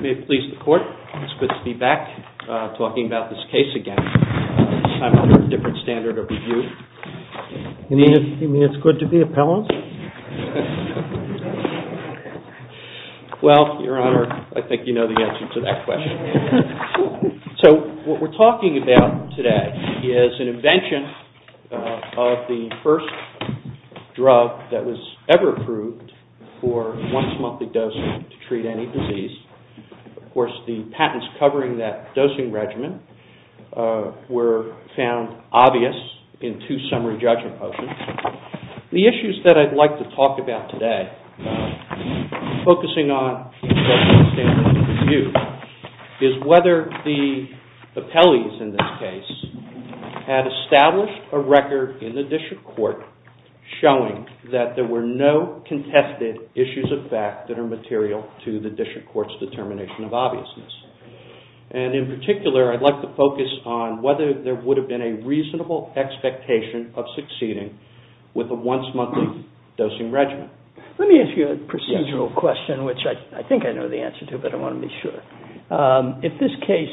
May it please the Court, it's good to be back talking about this case again, this time under a different standard of review. Well, Your Honor, I think you know the answer to that question. So what we're talking about today is an invention of the first drug that was ever approved for once-monthly dosing to treat any disease. Of course, the patents covering that dosing regimen were found obvious in two summary judgment postings. The issues that I'd like to talk about today, focusing on drug-by-standard review, is whether the appellees in this case had established a record in the district court showing that there were no contested issues of fact that are material to the district court's determination of obviousness. And in particular, I'd like to focus on whether there would have been a reasonable expectation of succeeding with a once-monthly dosing regimen. Let me ask you a procedural question, which I think I know the answer to, but I want to be sure. If this case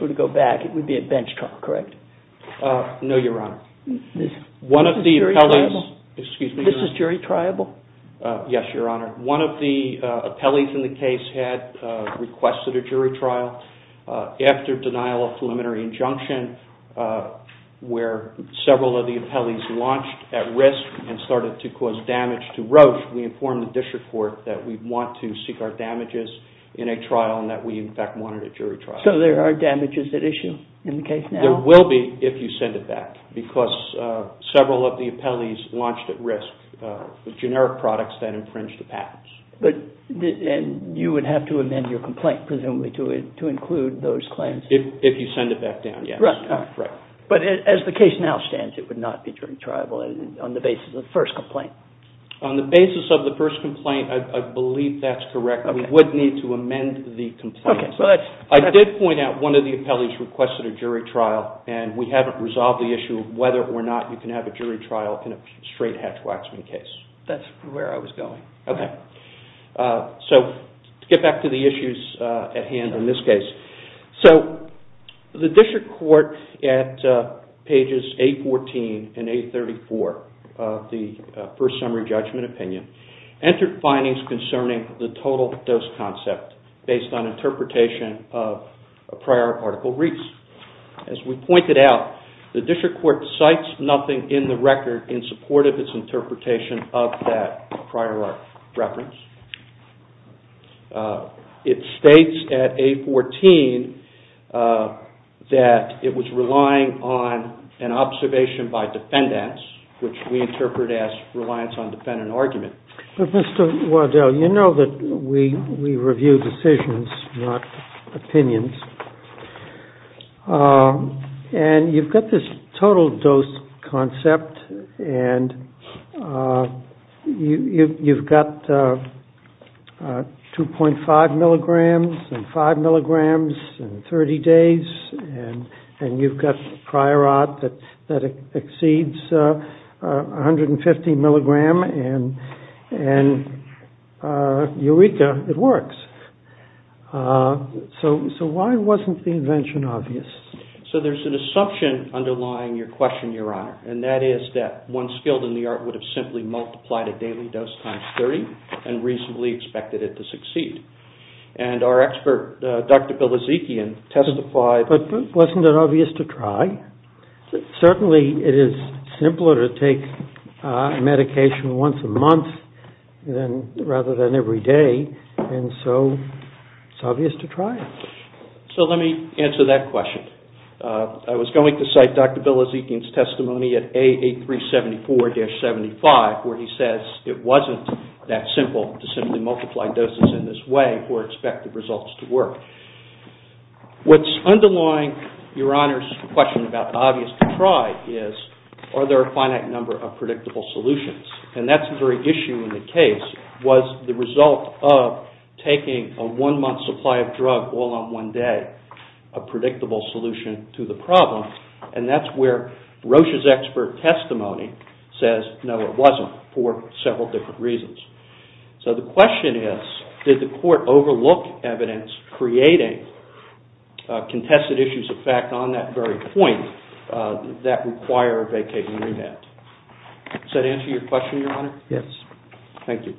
were to go back, it would be a bench trial, correct? Yes, Your Honor. One of the appellees in the case had requested a jury trial. After denial of preliminary injunction, where several of the appellees launched at risk and started to cause damage to Roche, we informed the district court that we want to seek our damages in a trial and that we, in fact, wanted a jury trial. So there are damages at issue in the case now? There will be, if you send it back, because several of the appellees launched at risk with generic products that infringed the patents. And you would have to amend your complaint, presumably, to include those claims? If you send it back down, yes. But as the case now stands, it would not be jury trial on the basis of the first complaint? On the basis of the first complaint, I believe that's correct. We would need to amend the complaint. I did point out that one of the appellees requested a jury trial, and we haven't resolved the issue of whether or not you can have a jury trial in a straight Hatch-Waxman case. That's where I was going. So, to get back to the issues at hand in this case. So, the district court, at pages 814 and 834 of the first summary judgment opinion, entered findings concerning the total dose concept, based on interpretation of a prior article reached. As we pointed out, the district court cites nothing in the record in support of its interpretation of that prior reference. It states at 814 that it was relying on an observation by defendants, which we interpret as reliance on defendant argument. But, Mr. Waddell, you know that we review decisions, not opinions. And you've got this total dose concept, and you've got, you know, 2.5 milligrams and 5 milligrams in 30 days, and you've got prior art that exceeds 150 milligrams, and eureka, it works. So, why wasn't the invention obvious? So, there's an assumption underlying your question, Your Honor, and that is that one skilled in the art would have simply multiplied a daily dose times 30 and reasonably expected it to succeed. And our expert, Dr. Bill Ezekian, testified... So, let me answer that question. I was going to cite Dr. Bill Ezekian's testimony at A8374-75, where he says it wasn't that simple to simply multiply doses in this way or expect the results to work. What's underlying Your Honor's question about obvious to try is, are there a finite number of predictable solutions? And that's the very issue in the case, was the result of taking a one-month supply of drug all on one day a predictable solution to the problem? And that's where Rocha's expert testimony says, no, it wasn't, for several different reasons. So, the question is, did the court overlook evidence creating contested issues of fact on that very point that require a vacating remand? Does that answer your question, Your Honor? Yes. Thank you.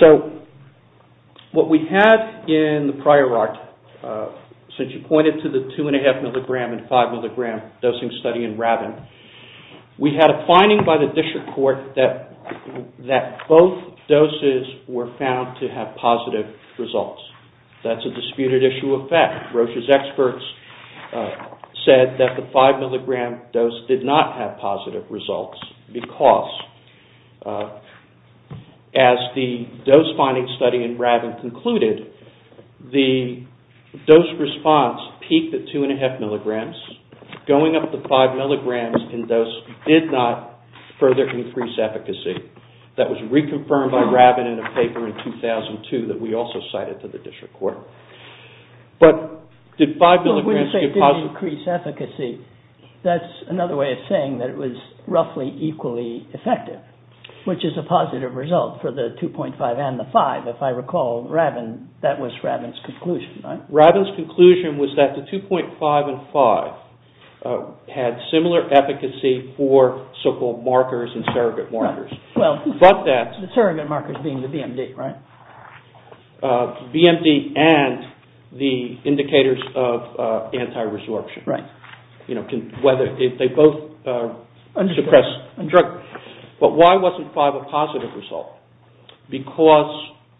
So, what we had in the prior art, since you pointed to the 2.5 mg and 5 mg dosing study in Rabin, we had a finding by the district court that both doses were found to have positive results. That's a disputed issue of fact. Rocha's experts said that the 5 mg dose did not have positive results because, as the dose finding study in Rabin concluded, the dose response peaked at 2.5 mg, going up to 5 mg in dose did not further increase efficacy. That was reconfirmed by Rabin in a paper in 2002 that we also cited to the district court. But, did 5 mg give positive results? That's another way of saying that it was roughly equally effective, which is a positive result for the 2.5 and the 5. If I recall, that was Rabin's conclusion, right? Rabin's conclusion was that the 2.5 and 5 had similar efficacy for so-called markers and surrogate markers. The surrogate markers being the BMD, right? BMD and the indicators of anti-resorption. But, why wasn't 5 a positive result? Because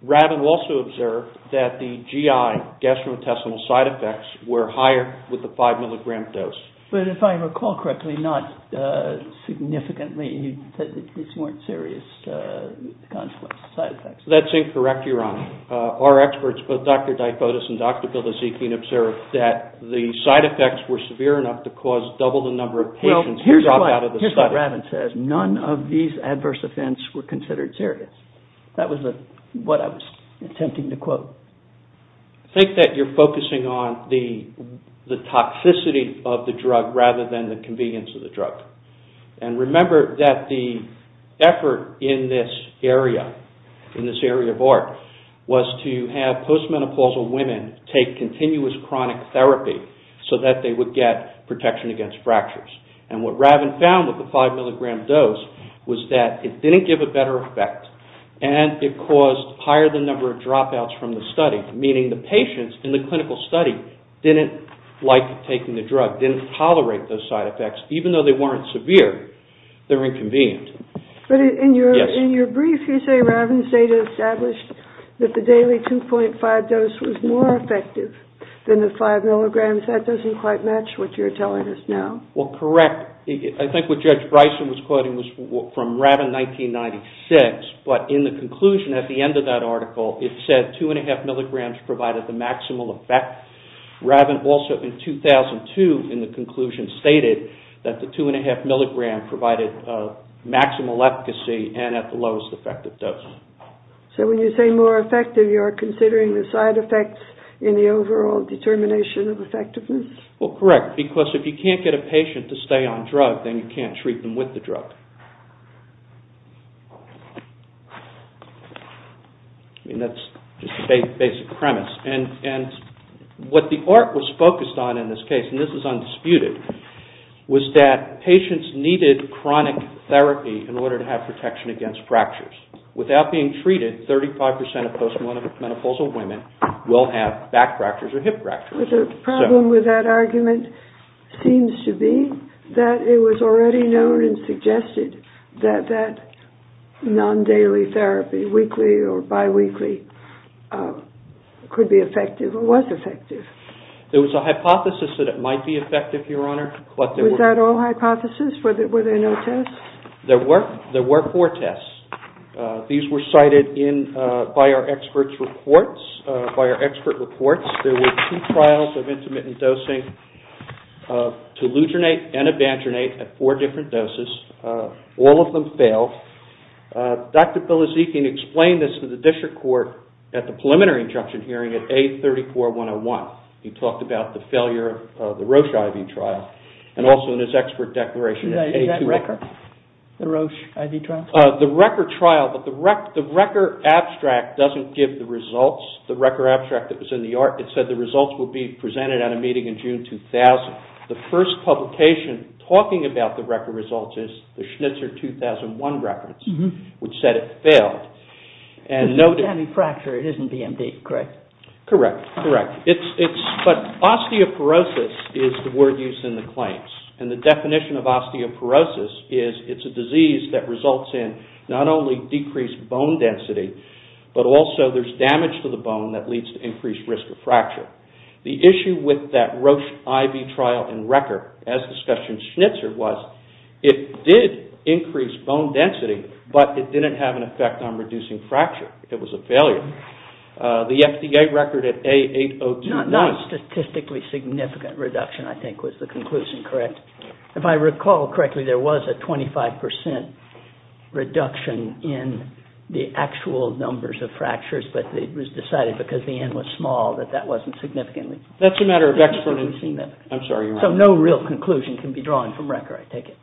Rabin also observed that the GI, gastrointestinal side effects, were higher with the 5 mg dose. But, if I recall correctly, not significantly, these weren't serious side effects. That's incorrect, Your Honor. Our experts, both Dr. Dyfotis and Dr. Bilodezikian, observed that the side effects were severe enough to cause double the number of patients drop out of the study. Well, here's what Rabin says. None of these adverse events were considered serious. That was what I was attempting to quote. I think that you're focusing on the toxicity of the drug rather than the convenience of the drug. Remember that the effort in this area of art was to have post-menopausal women take continuous chronic therapy so that they would get protection against fractures. And what Rabin found with the 5 mg dose was that it didn't give a better effect and it caused higher the number of dropouts from the study. Meaning the patients in the clinical study didn't like taking the drug, didn't tolerate those side effects. Even though they weren't severe, they were inconvenient. But in your brief, you say Rabin's data established that the daily 2.5 dose was more effective than the 5 mg. That doesn't quite match what you're telling us now. Well, correct. I think what Judge Bryson was quoting was from Rabin 1996, but in the conclusion at the end of that article, it said 2.5 mg provided the maximal effect. Rabin also in 2002, in the conclusion, stated that the 2.5 mg provided maximal efficacy and at the lowest effective dose. So when you say more effective, you're considering the side effects in the overall determination of effectiveness? Well, correct. Because if you can't get a patient to stay on drug, then you can't treat them with the drug. I mean, that's just the basic premise. And what the ART was focused on in this case, and this is undisputed, was that patients needed chronic therapy in order to have protection against fractures. Without being treated, 35% of post-menopausal women will have back fractures or hip fractures. But the problem with that argument seems to be that it was already known and suggested that that non-daily therapy, weekly or biweekly, could be effective. It was a hypothesis that it might be effective, Your Honor. Was that all hypothesis? Were there no tests? There were four tests. These were cited by our expert reports. There were two trials of intermittent dosing to lutronate and abandronate at four different doses. All of them failed. Dr. Bilizikian explained this to the district court at the preliminary injunction hearing at A34-101. He talked about the failure of the Roche IV trial, and also in his expert declaration. The RECR trial, but the RECR abstract doesn't give the results. The RECR abstract that was in the ART, it said the results would be presented at a meeting in June 2000. The first publication talking about the RECR results is the Schnitzer 2001 reference, which said it failed. Because it's anti-fracture, it isn't DMD, correct? Correct. But osteoporosis is the word used in the claims. And the definition of osteoporosis is it's a disease that results in not only decreased bone density, but also there's damage to the bone that leads to increased risk of fracture. The issue with that Roche IV trial and RECR, as discussed in Schnitzer, was it did increase bone density, but it didn't have an effect on reducing fracture. It was a failure. The FDA record at A802-1... Not a statistically significant reduction, I think, was the conclusion, correct? If I recall correctly, there was a 25% reduction in the actual numbers of fractures, but it was decided because the N was small that that wasn't significantly significant. So no real conclusion can be drawn from RECR, I take it.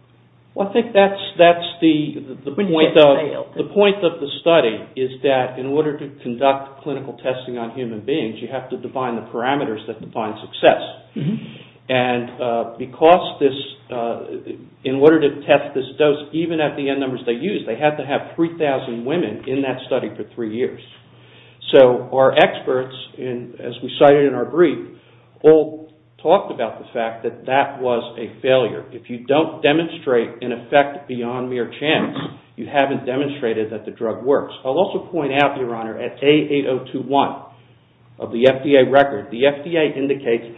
Well, I think that's the point of the study, is that in order to conduct clinical testing on human beings, you have to define the parameters that define success. And in order to test this dose, even at the N numbers they used, they had to have 3,000 women in that study for three years. So our experts, as we cited in our brief, all talked about the fact that that was a failure. If you don't demonstrate an effect beyond mere chance, you haven't demonstrated that the drug works. I'll also point out, Your Honor, at A802-1 of the FDA record, the FDA indicates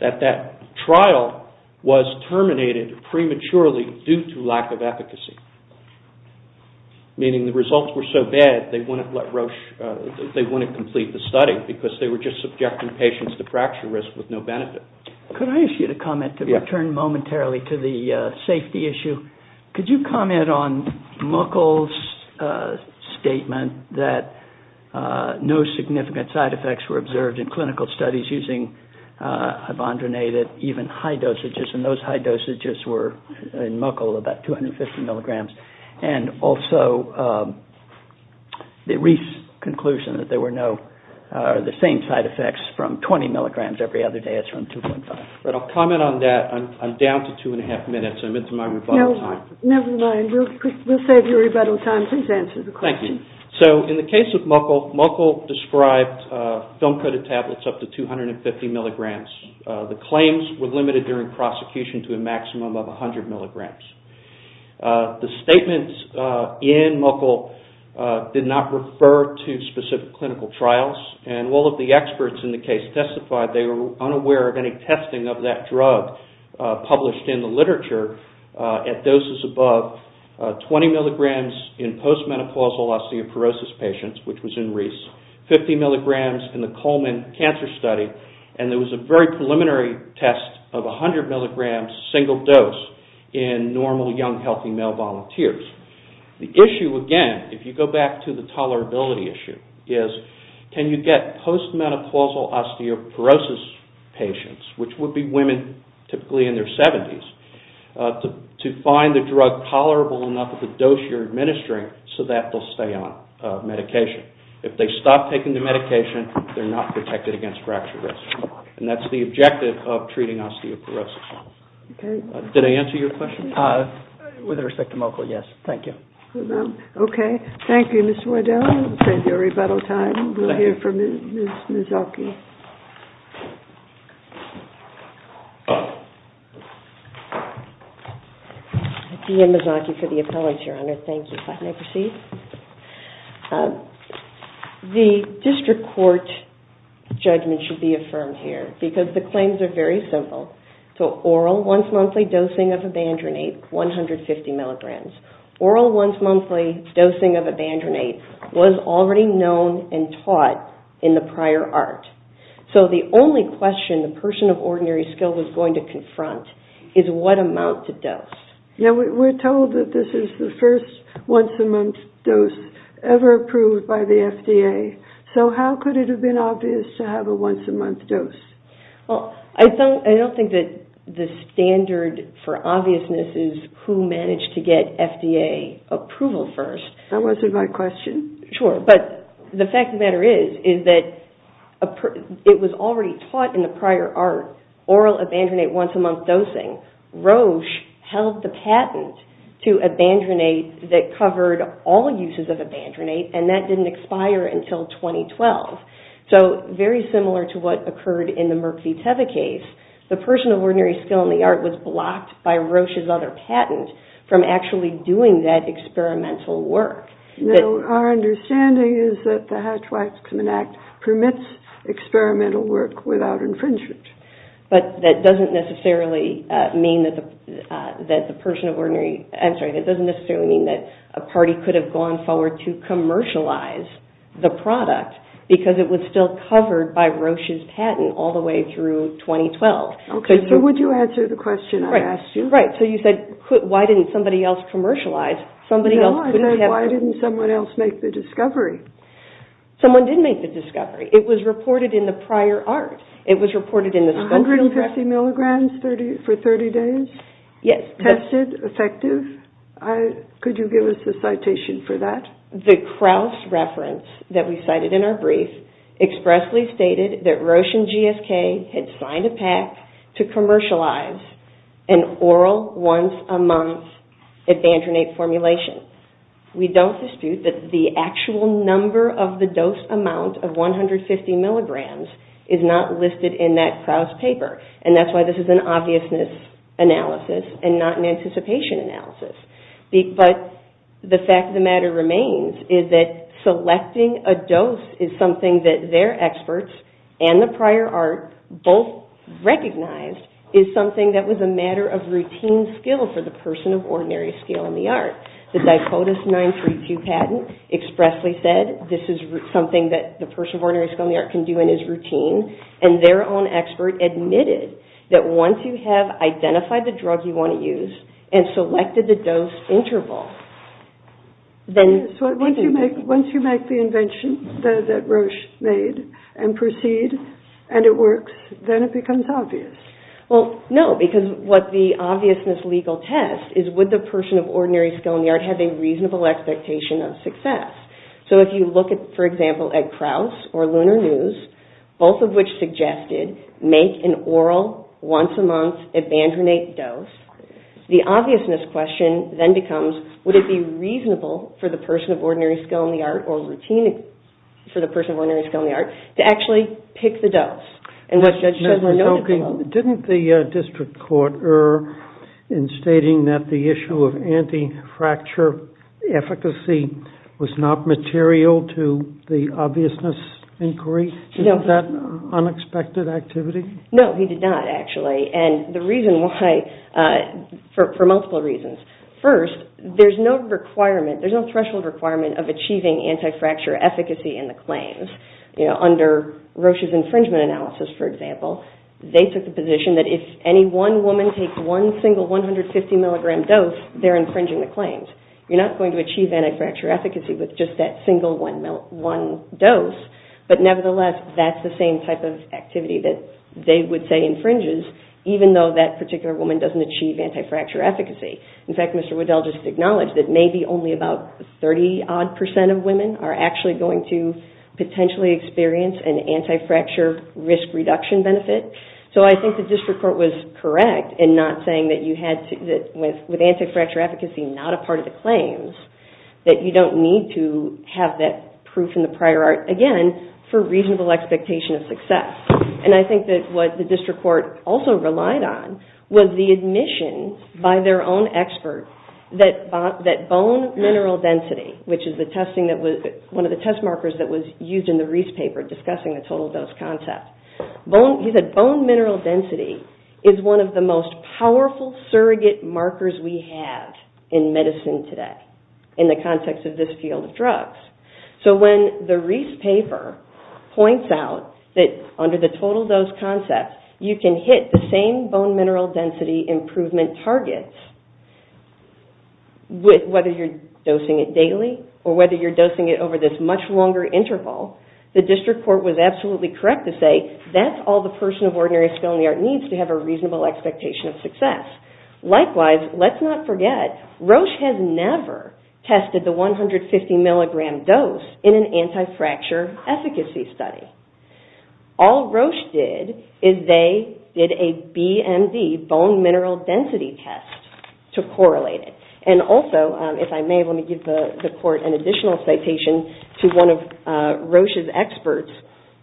that that trial was terminated prematurely due to lack of efficacy. Meaning the results were so bad, they wouldn't complete the study, because they were just subjecting patients to fracture risk with no benefit. Could I ask you to comment, to return momentarily to the safety issue? Could you comment on Muckel's statement that no significant side effects were observed in clinical studies using ibondronate at even high dosages, and those high dosages were, in Muckel, about 250 milligrams, and also the brief conclusion that there were no, or the same side effects from 20 milligrams every other day as from 2.5? I'll comment on that. I'm down to two and a half minutes. I'm into my rebuttal time. Never mind. We'll save your rebuttal time. Please answer the question. Thank you. So, in the case of Muckel, Muckel described film-coated tablets up to 250 milligrams. The claims were limited during prosecution to a maximum of 100 milligrams. The statements in Muckel did not refer to specific clinical trials, and all of the experts in the case testified they were unaware of any testing of that drug published in the literature. At doses above 20 milligrams in postmenopausal osteoporosis patients, which was in Reese, 50 milligrams in the Coleman cancer study, and there was a very preliminary test of 100 milligrams, single dose, in normal young healthy male volunteers. The issue, again, if you go back to the tolerability issue, is can you get postmenopausal osteoporosis patients, which would be women typically in their 70s, to find the drug tolerable enough at the dose you're administering so that they'll stay on medication. If they stop taking the medication, they're not protected against fracture risk. And that's the objective of treating osteoporosis. Did I answer your question? With respect to Muckel, yes. Thank you. Okay. Thank you, Ms. Wardell. It's time for a rebuttal. We'll hear from Ms. Mazzocchi. The district court judgment should be affirmed here, because the claims are very simple. Oral once-monthly dosing of Evandronate, 150 milligrams. Oral once-monthly dosing of Evandronate was already known and taught in the prior art. So the only question the person of ordinary skill was going to confront is what amount to dose. We're told that this is the first once-a-month dose ever approved by the FDA. So how could it have been obvious to have a once-a-month dose? I don't think that the standard for obviousness is who managed to get FDA approval first. That wasn't my question. Sure. But the fact of the matter is that it was already taught in the prior art, oral Evandronate once-a-month dosing. So Roche held the patent to Evandronate that covered all uses of Evandronate, and that didn't expire until 2012. So very similar to what occurred in the Merck v. Teva case, the person of ordinary skill in the art was blocked by Roche's other patent from actually doing that experimental work. Our understanding is that the Hatch-Waxman Act permits experimental work without infringement. But that doesn't necessarily mean that a party could have gone forward to commercialize the product because it was still covered by Roche's patent all the way through 2012. So would you answer the question I asked you? Right. So you said, why didn't somebody else commercialize? No, I said, why didn't someone else make the discovery? Someone did make the discovery. It was reported in the prior art. 150 milligrams for 30 days? Tested? Effective? Could you give us the citation for that? The Krauss reference that we cited in our brief expressly stated that Roche and GSK had signed a pact to commercialize an oral once a month Advantronate formulation. We don't dispute that the actual number of the dose amount of 150 milligrams is not listed in that Krauss paper, and that's why this is an obviousness analysis and not an anticipation analysis. But the fact of the matter remains is that selecting a dose is something that their experts and the prior art both recognized is something that was a matter of routine skill for the person of ordinary skill in the art. The Dicodus 932 patent expressly said this is something that the person of ordinary skill in the art can do and is routine, and their own expert admitted that once you have identified the drug you want to use and selected the dose interval, once you make the invention that Roche made and proceed and it works, then it becomes obvious. No, because what the obviousness legal test is would the person of ordinary skill in the art have a reasonable expectation of success? So if you look, for example, at Krauss or Lunar News, both of which suggested make an oral once a month, abandon a dose, the obviousness question then becomes, would it be reasonable for the person of ordinary skill in the art or routine for the person of ordinary skill in the art to actually pick the dose? Didn't the district court err in stating that the issue of anti-fracture efficacy was not material to the obviousness inquiry? Is that unexpected activity? No, he did not, actually. For multiple reasons. First, there's no requirement, there's no threshold requirement of achieving anti-fracture efficacy in the claims. Under Roche's infringement analysis, for example, they took the position that if any one woman takes one single 150 milligram dose, they're infringing the claims. You're not going to achieve anti-fracture efficacy with just that single one dose. But nevertheless, that's the same type of activity that they would say infringes, even though that particular woman doesn't achieve anti-fracture efficacy. In fact, Mr. Waddell just acknowledged that maybe only about 30 odd percent of women are actually going to potentially experience an anti-fracture risk reduction benefit. So I think the district court was correct in not saying that with anti-fracture efficacy not a part of the claims, that you don't need to have that proof in the prior art, again, for reasonable expectation of success. And I think that what the district court also relied on was the admission by their own expert that bone mineral density, which is one of the test markers that was used in the Reese paper discussing the total dose concept. He said bone mineral density is one of the most powerful surrogate markers we have in medicine today, in the context of this field of drugs. So when the Reese paper points out that under the total dose concept, you can hit the same bone mineral density improvement target, whether you're dosing it daily or whether you're dosing it over this much longer interval, the district court was absolutely correct to say that's all the person of ordinary skill in the art needs to have a reasonable expectation of success. Likewise, let's not forget, Roche has never tested the 150 mg dose in an anti-fracture efficacy study. All Roche did is they did a BMD, bone mineral density test, to correlate it. And also, if I may, let me give the court an additional citation to one of Roche's experts.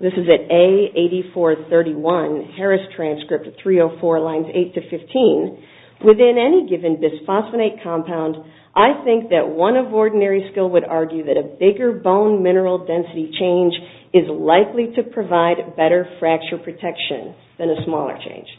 This is at A8431, Harris transcript 304 lines 8-15. Within any given bisphosphonate compound, I think that one of ordinary skill would argue that a bigger bone mineral density change is likely to provide better fracture protection than a smaller change.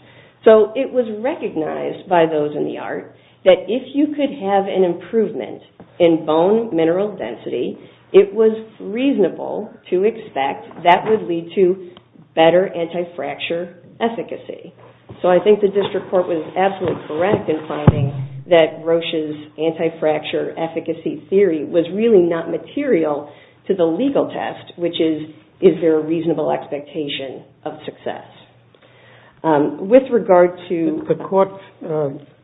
So it was recognized by those in the art that if you could have an improvement in bone mineral density, it was reasonable to expect that would lead to better anti-fracture efficacy. So I think the district court was absolutely correct in finding that Roche's anti-fracture efficacy theory was really not material to the legal test, which is, is there a reasonable expectation of success? With regard to... The court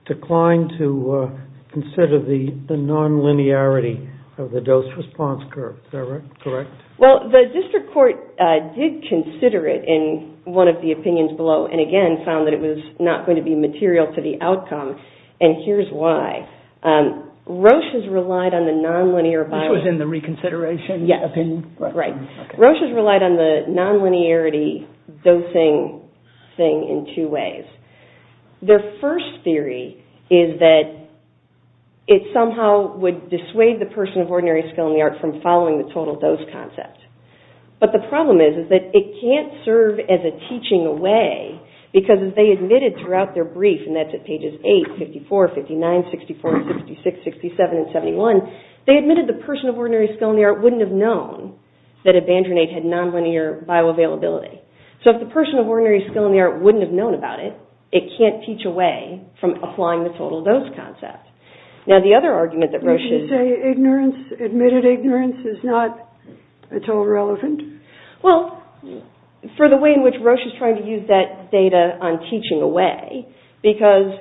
declined to consider the non-linearity of the dose response curve. Is that correct? Well, the district court did consider it in one of the opinions below, and again found that it was not going to be material to the outcome, and here's why. Roche's relied on the non-linear... This was in the reconsideration opinion? Roche's relied on the non-linearity dosing thing in two ways. Their first theory is that it somehow would dissuade the person of ordinary skill in the art from following the total dose concept. But the problem is that it can't serve as a teaching away because as they admitted throughout their brief, and that's at pages 8, 54, 59, 64, 66, 67, and 71, they admitted the person of ordinary skill in the art wouldn't have known that a Bandrenate had non-linear bioavailability. So if the person of ordinary skill in the art wouldn't have known about it, it can't teach away from applying the total dose concept. Now the other argument that Roche's... Well, for the way in which Roche is trying to use that data on teaching away, because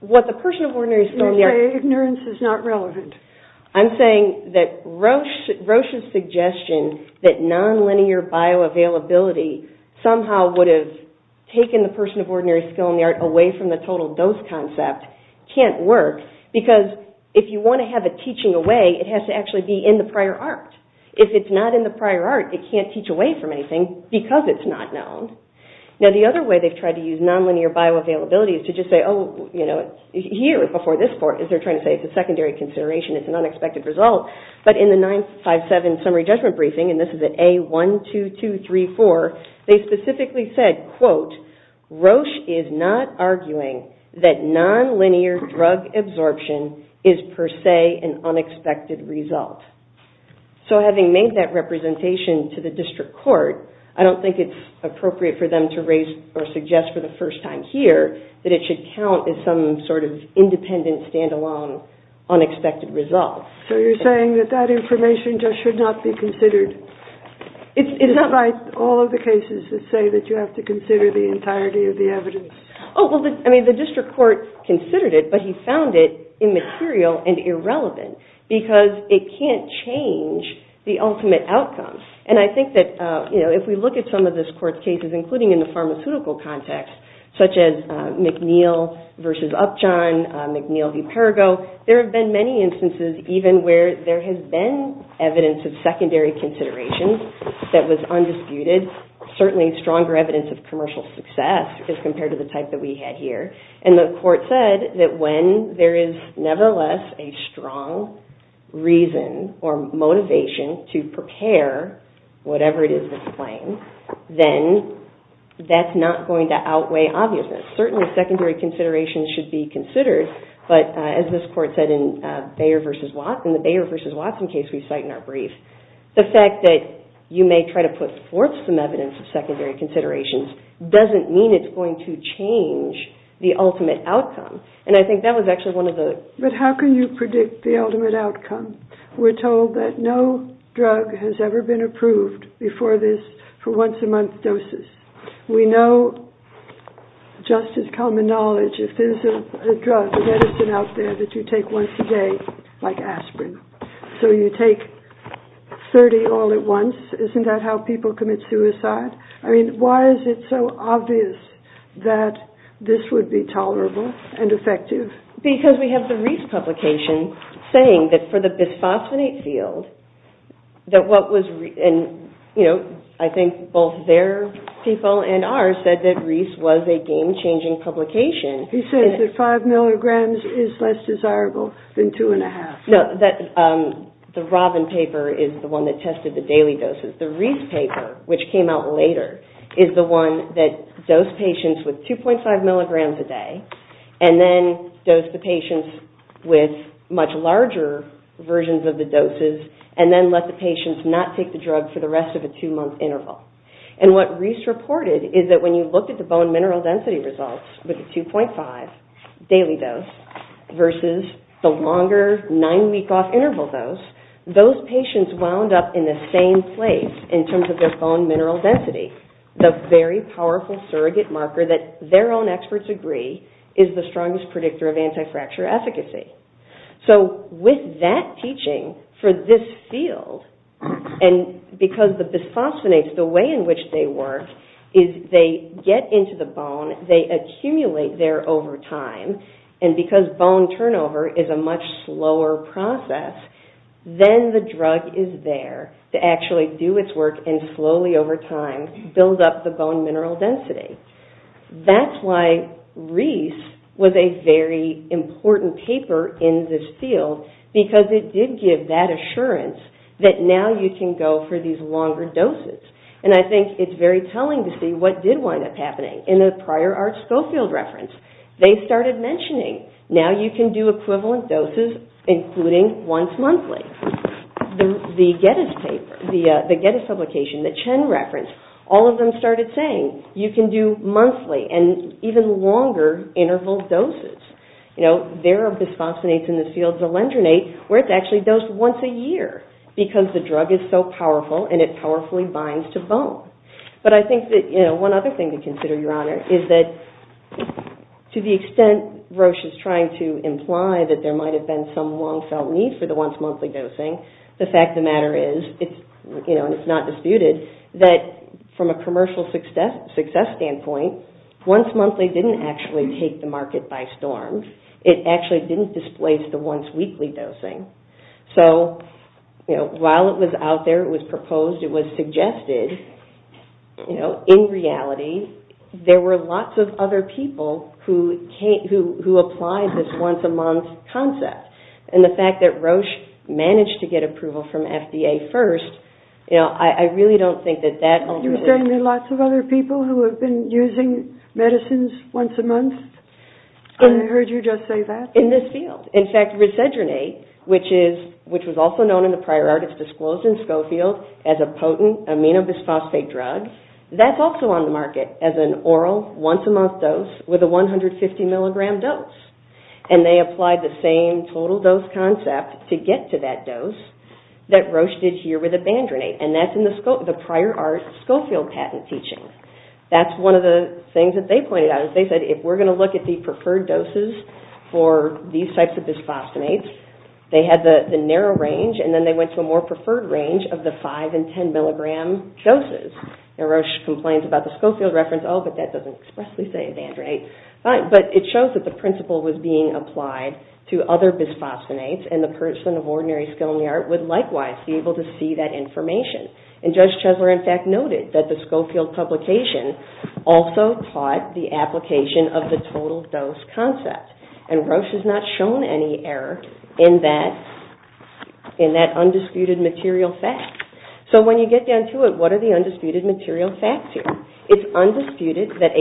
what the person of ordinary skill in the art... I'm saying that Roche's suggestion that non-linear bioavailability somehow would have taken the person of ordinary skill in the art away from the total dose concept can't work because if you want to have a teaching away, it has to actually be in the prior art. If it's not in the prior art, it can't teach away from anything because it's not known. Now the other way they've tried to use non-linear bioavailability is to just say, here, before this court, they're trying to say it's a secondary consideration, it's an unexpected result, but in the 957 summary judgment briefing, and this is at A12234, they specifically said, quote, Roche is not arguing that non-linear drug absorption is per se an unexpected result. So having made that representation to the district court, I don't think it's appropriate for them to raise or suggest for the first time here that it should count as some sort of independent, stand-alone, unexpected result. So you're saying that that information just should not be considered, despite all of the cases that say that you have to consider the entirety of the evidence? Oh, well, the district court considered it, but he found it immaterial and irrelevant because it can't change the ultimate outcome. And I think that if we look at some of this court's cases, including in the pharmaceutical context, such as McNeil v. Upjohn, McNeil v. Perrigo, there have been many instances even where there has been evidence of secondary considerations that was undisputed, certainly stronger evidence of commercial success as compared to the type that we had here. And the court said that when there is nevertheless a strong reason or motivation to prepare whatever it is that's claimed, then that's not going to outweigh obviousness. Certainly secondary considerations should be considered, but as this court said in the Bayer v. Watson case we cite in our brief, the fact that you may try to put forth some evidence of secondary considerations doesn't mean it's going to change the ultimate outcome. And I think that was actually one of the... But how can you predict the ultimate outcome? We're told that no drug has ever been approved before this for once a month doses. We know just as common knowledge, if there's a drug, a medicine out there that you take once a day like aspirin. So you take 30 all at once. Isn't that how people commit suicide? I mean, why is it so obvious that this would be tolerable and effective? Because we have the Reese publication saying that for the bisphosphonate field, I think both their people and ours said that Reese was a game-changing publication. He said that five milligrams is less desirable than two and a half. The Robin paper is the one that tested the daily doses. The Reese paper, which came out later, is the one that does patients with 2.5 milligrams a day and then does the patients with much larger versions of the doses and then let the patients not take the drug for the rest of a two-month interval. And what Reese reported is that when you look at the bone mineral density results with the 2.5 daily dose versus the longer nine-week-off interval dose, those patients wound up in the same place in terms of their bone mineral density. The very powerful surrogate marker that their own experts agree is the strongest predictor of anti-fracture efficacy. So with that teaching for this field, and because the bisphosphonates, the way in which they work is they get into the bone, they accumulate there over time, and because bone turnover is a much slower process, then the drug is there to actually do its work and slowly over time build up the bone mineral density. That's why Reese was a very important paper in this field, because it did give that assurance that now you can go for these longer doses. And I think it's very telling to see what did wind up happening in the prior ART Schofield reference. They started mentioning, now you can do equivalent doses including once monthly. The Gettys publication, the Chen reference, all of them started saying you can do monthly and even longer interval doses. There are bisphosphonates in the field, the lendronate, where it's actually dosed once a year because the drug is so powerful and it powerfully binds to bone. But I think that one other thing to consider, Your Honor, is that to the extent Roche is trying to imply that there might have been some long felt need for the once monthly dosing, the fact of the matter is, and it's not disputed, that from a commercial success standpoint, once monthly didn't actually take the market by storm. It actually didn't displace the once weekly dosing. So while it was out there, it was proposed, it was suggested, in reality there were lots of other people who applied this once a month concept. And the fact that Roche managed to get approval from FDA first, I really don't think that that... You're saying there are lots of other people who have been using medicines once a month? I heard you just say that. In this field. In fact, risedronate, which was also known in the prior art, it's disclosed in Schofield as a potent aminobisphosphate drug, that's also on the market as an oral once a month dose with a 150 milligram dose. And they applied the same total dose concept to get to that dose that Roche did here with abandronate. And that's in the prior art Schofield patent teaching. That's one of the things that they pointed out. They said if we're going to look at the preferred doses for these types of bisphosphonates, they had the narrow range and then they went to a more preferred range of the 5 and 10 milligram doses. And Roche complains about the Schofield reference, oh, but that doesn't expressly say abandronate. But it shows that the principle was being applied to other bisphosphonates and the person of ordinary skill in the art would likewise be able to see that information. And Judge Chesler in fact noted that the Schofield publication also taught the application of the total dose concept. And Roche has not shown any error in that undisputed material fact. So when you get down to it, what are the undisputed material facts here? It's undisputed that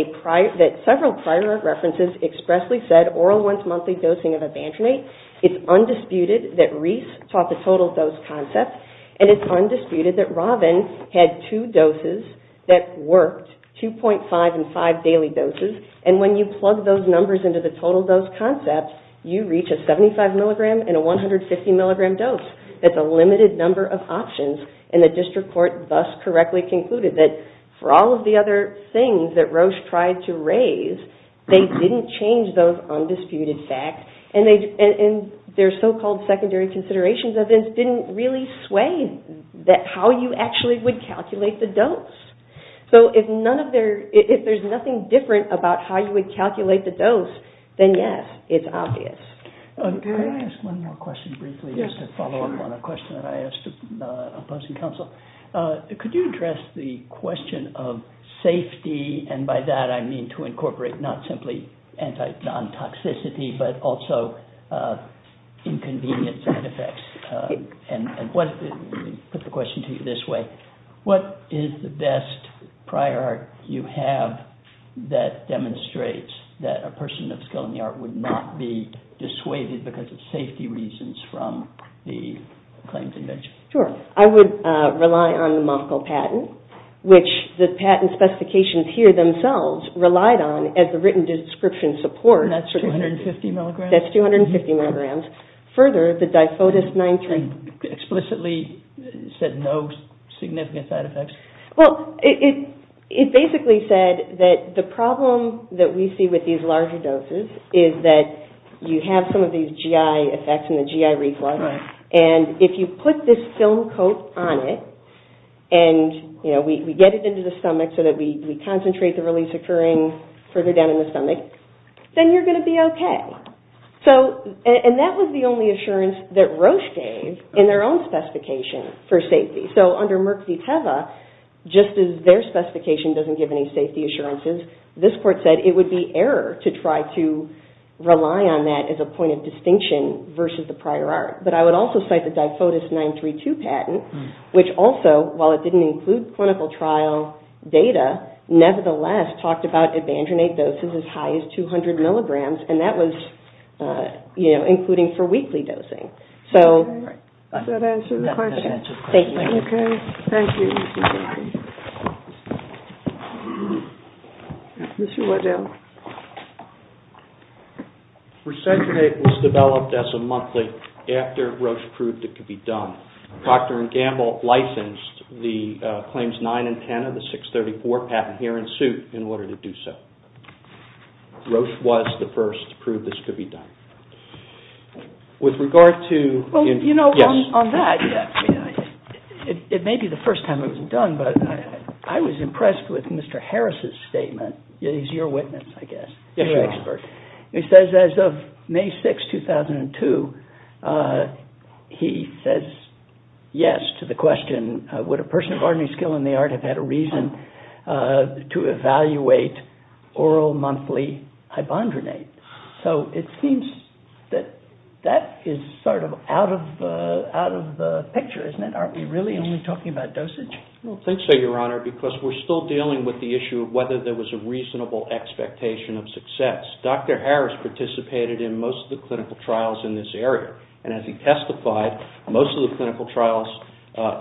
several prior art references expressly said oral once monthly dosing of abandronate. It's undisputed that Reese taught the total dose concept. And it's undisputed that Robin had two doses that worked, 2.5 and 5 daily doses. And when you plug those numbers into the total dose concept, you reach a 75 milligram and a 150 milligram dose. That's a limited number of options and the district court thus correctly concluded that for all of the other things that Roche tried to raise, they didn't change those undisputed facts and their so-called secondary considerations of this didn't really sway how you actually would calculate the dose. So if there's nothing different about how you would calculate the dose, then yes, it's obvious. Can I ask one more question briefly just to follow up on a question that I asked opposing counsel? Could you address the question of safety and by that I mean to incorporate not simply non-toxicity but also inconvenience and effects. And let me put the question to you this way. What is the best prior art you have that demonstrates that a person of skill in the art would not be dissuaded because of safety reasons from the claims invention? Sure. I would rely on the Munkle patent, which the patent specifications here themselves relied on as the written description support. And that's 250 milligrams? That's 250 milligrams. Further, the Difodus-9-3. Explicitly said no significant side effects? Well, it basically said that the problem that we see with these larger doses is that you have some of these GI effects and the GI reflux. And if you put this film coat on it and we get it into the stomach so that we concentrate the release occurring further down in the stomach, then you're going to be okay. And that was the only assurance that Roche gave in their own specification for safety. So under Merck v. Teva, just as their specification doesn't give any safety assurances, this court said it would be error to try to rely on that as a point of distinction versus the prior art. But I would also cite the Difodus-9-3-2 patent, which also, while it didn't include clinical trial data, nevertheless talked about Evandrinate doses as high as 200 milligrams, and that was including for weekly dosing. Does that answer the question? That does answer the question. Thank you. Okay, thank you. Mr. Waddell. Resentinate was developed as a monthly after Roche proved it could be done. Dr. Gamble licensed the claims 9 and 10 of the 634 patent here in suit in order to do so. Roche was the first to prove this could be done. Well, you know, on that, it may be the first time it was done, but I was impressed with Mr. Harris' statement. He's your witness, I guess, your expert. He says as of May 6, 2002, he says yes to the question, would a person of ordinary skill in the art have had a reason to evaluate oral monthly Evandrinate? So it seems that that is sort of out of the picture, isn't it? Aren't we really only talking about dosage? I don't think so, Your Honor, because we're still dealing with the issue of whether there was a reasonable expectation of success. Dr. Harris participated in most of the clinical trials in this area, and as he testified, most of the clinical trials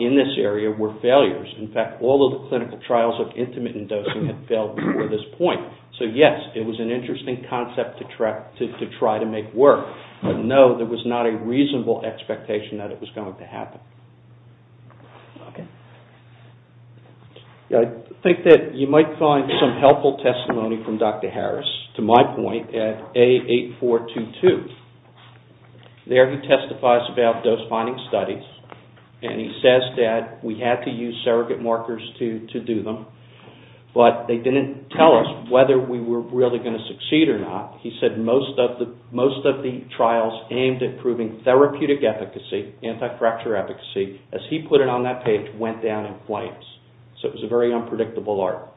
in this area were failures. In fact, all of the clinical trials of intermittent dosing had failed before this point. So yes, it was an interesting concept to try to make work, but no, there was not a reasonable expectation that it was going to happen. I think that you might find some helpful testimony from Dr. Harris, to my point, at A8422. There he testifies about dose-finding studies, and he says that we had to use surrogate markers to do them, but they didn't tell us whether we were really going to succeed or not. He said most of the trials aimed at proving therapeutic efficacy, anti-fracture efficacy, as he put it on that page, went down in flames. So it was a very unpredictable art.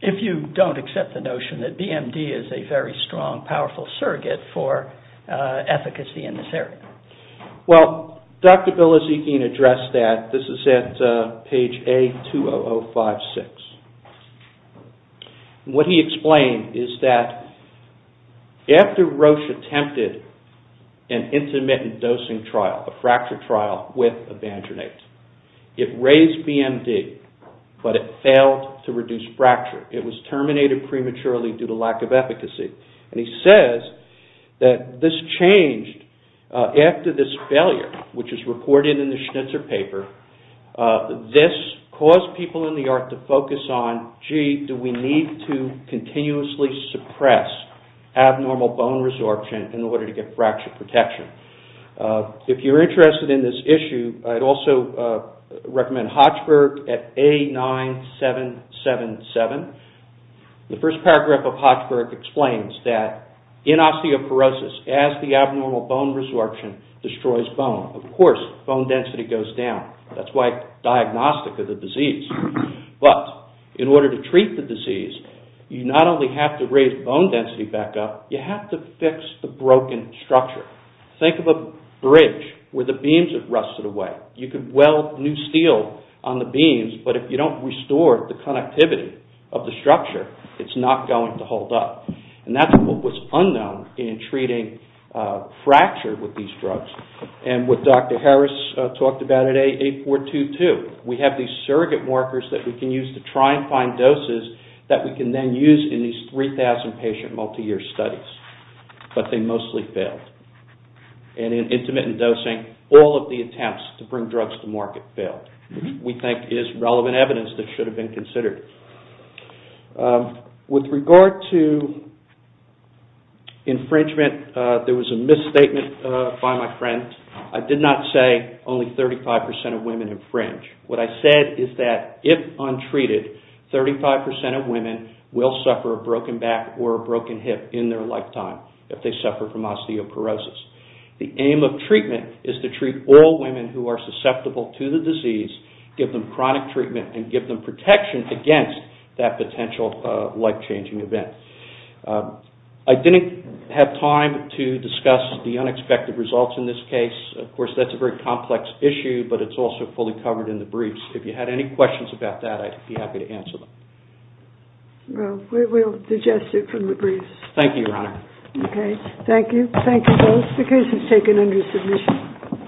If you don't accept the notion that BMD is a very strong, powerful surrogate for efficacy in this area. Well, Dr. Billazekian addressed that. This is at page A20056. What he explained is that after Roche attempted an intermittent dosing trial, a fracture trial with Evangernate, it raised BMD, but it failed to reduce fracture. He says that this changed after this failure, which is recorded in the Schnitzer paper. This caused people in the art to focus on, gee, do we need to continuously suppress abnormal bone resorption in order to get fracture protection? If you're interested in this issue, I'd also recommend Hochberg at A9777. The first paragraph of Hochberg explains that in osteoporosis, as the abnormal bone resorption destroys bone, of course, bone density goes down. That's why it's diagnostic of the disease. But in order to treat the disease, you not only have to raise bone density back up, you have to fix the broken structure. Think of a bridge where the beams have rusted away. You could weld new steel on the beams, but if you don't restore the connectivity of the structure, it's not going to hold up. And that's what was unknown in treating fracture with these drugs. And what Dr. Harris talked about at A422, we have these surrogate markers that we can use to try and find doses that we can then use in these 3,000 patient multi-year studies. But they mostly failed. And in intermittent dosing, all of the attempts to bring drugs to market failed, which we think is relevant evidence that should have been considered. With regard to infringement, there was a misstatement by my friend. I did not say only 35% of women infringe. What I said is that if untreated, 35% of women will suffer a broken back or a broken hip in their lifetime if they suffer from osteoporosis. The aim of treatment is to treat all women who are susceptible to the disease, give them chronic treatment, and give them protection against that potential life-changing event. I didn't have time to discuss the unexpected results in this case. Of course, that's a very complex issue, but it's also fully covered in the briefs. If you had any questions about that, I'd be happy to answer them. Well, we'll digest it from the briefs. Thank you, Your Honor. Okay. Thank you. Thank you both. The case is taken under submission.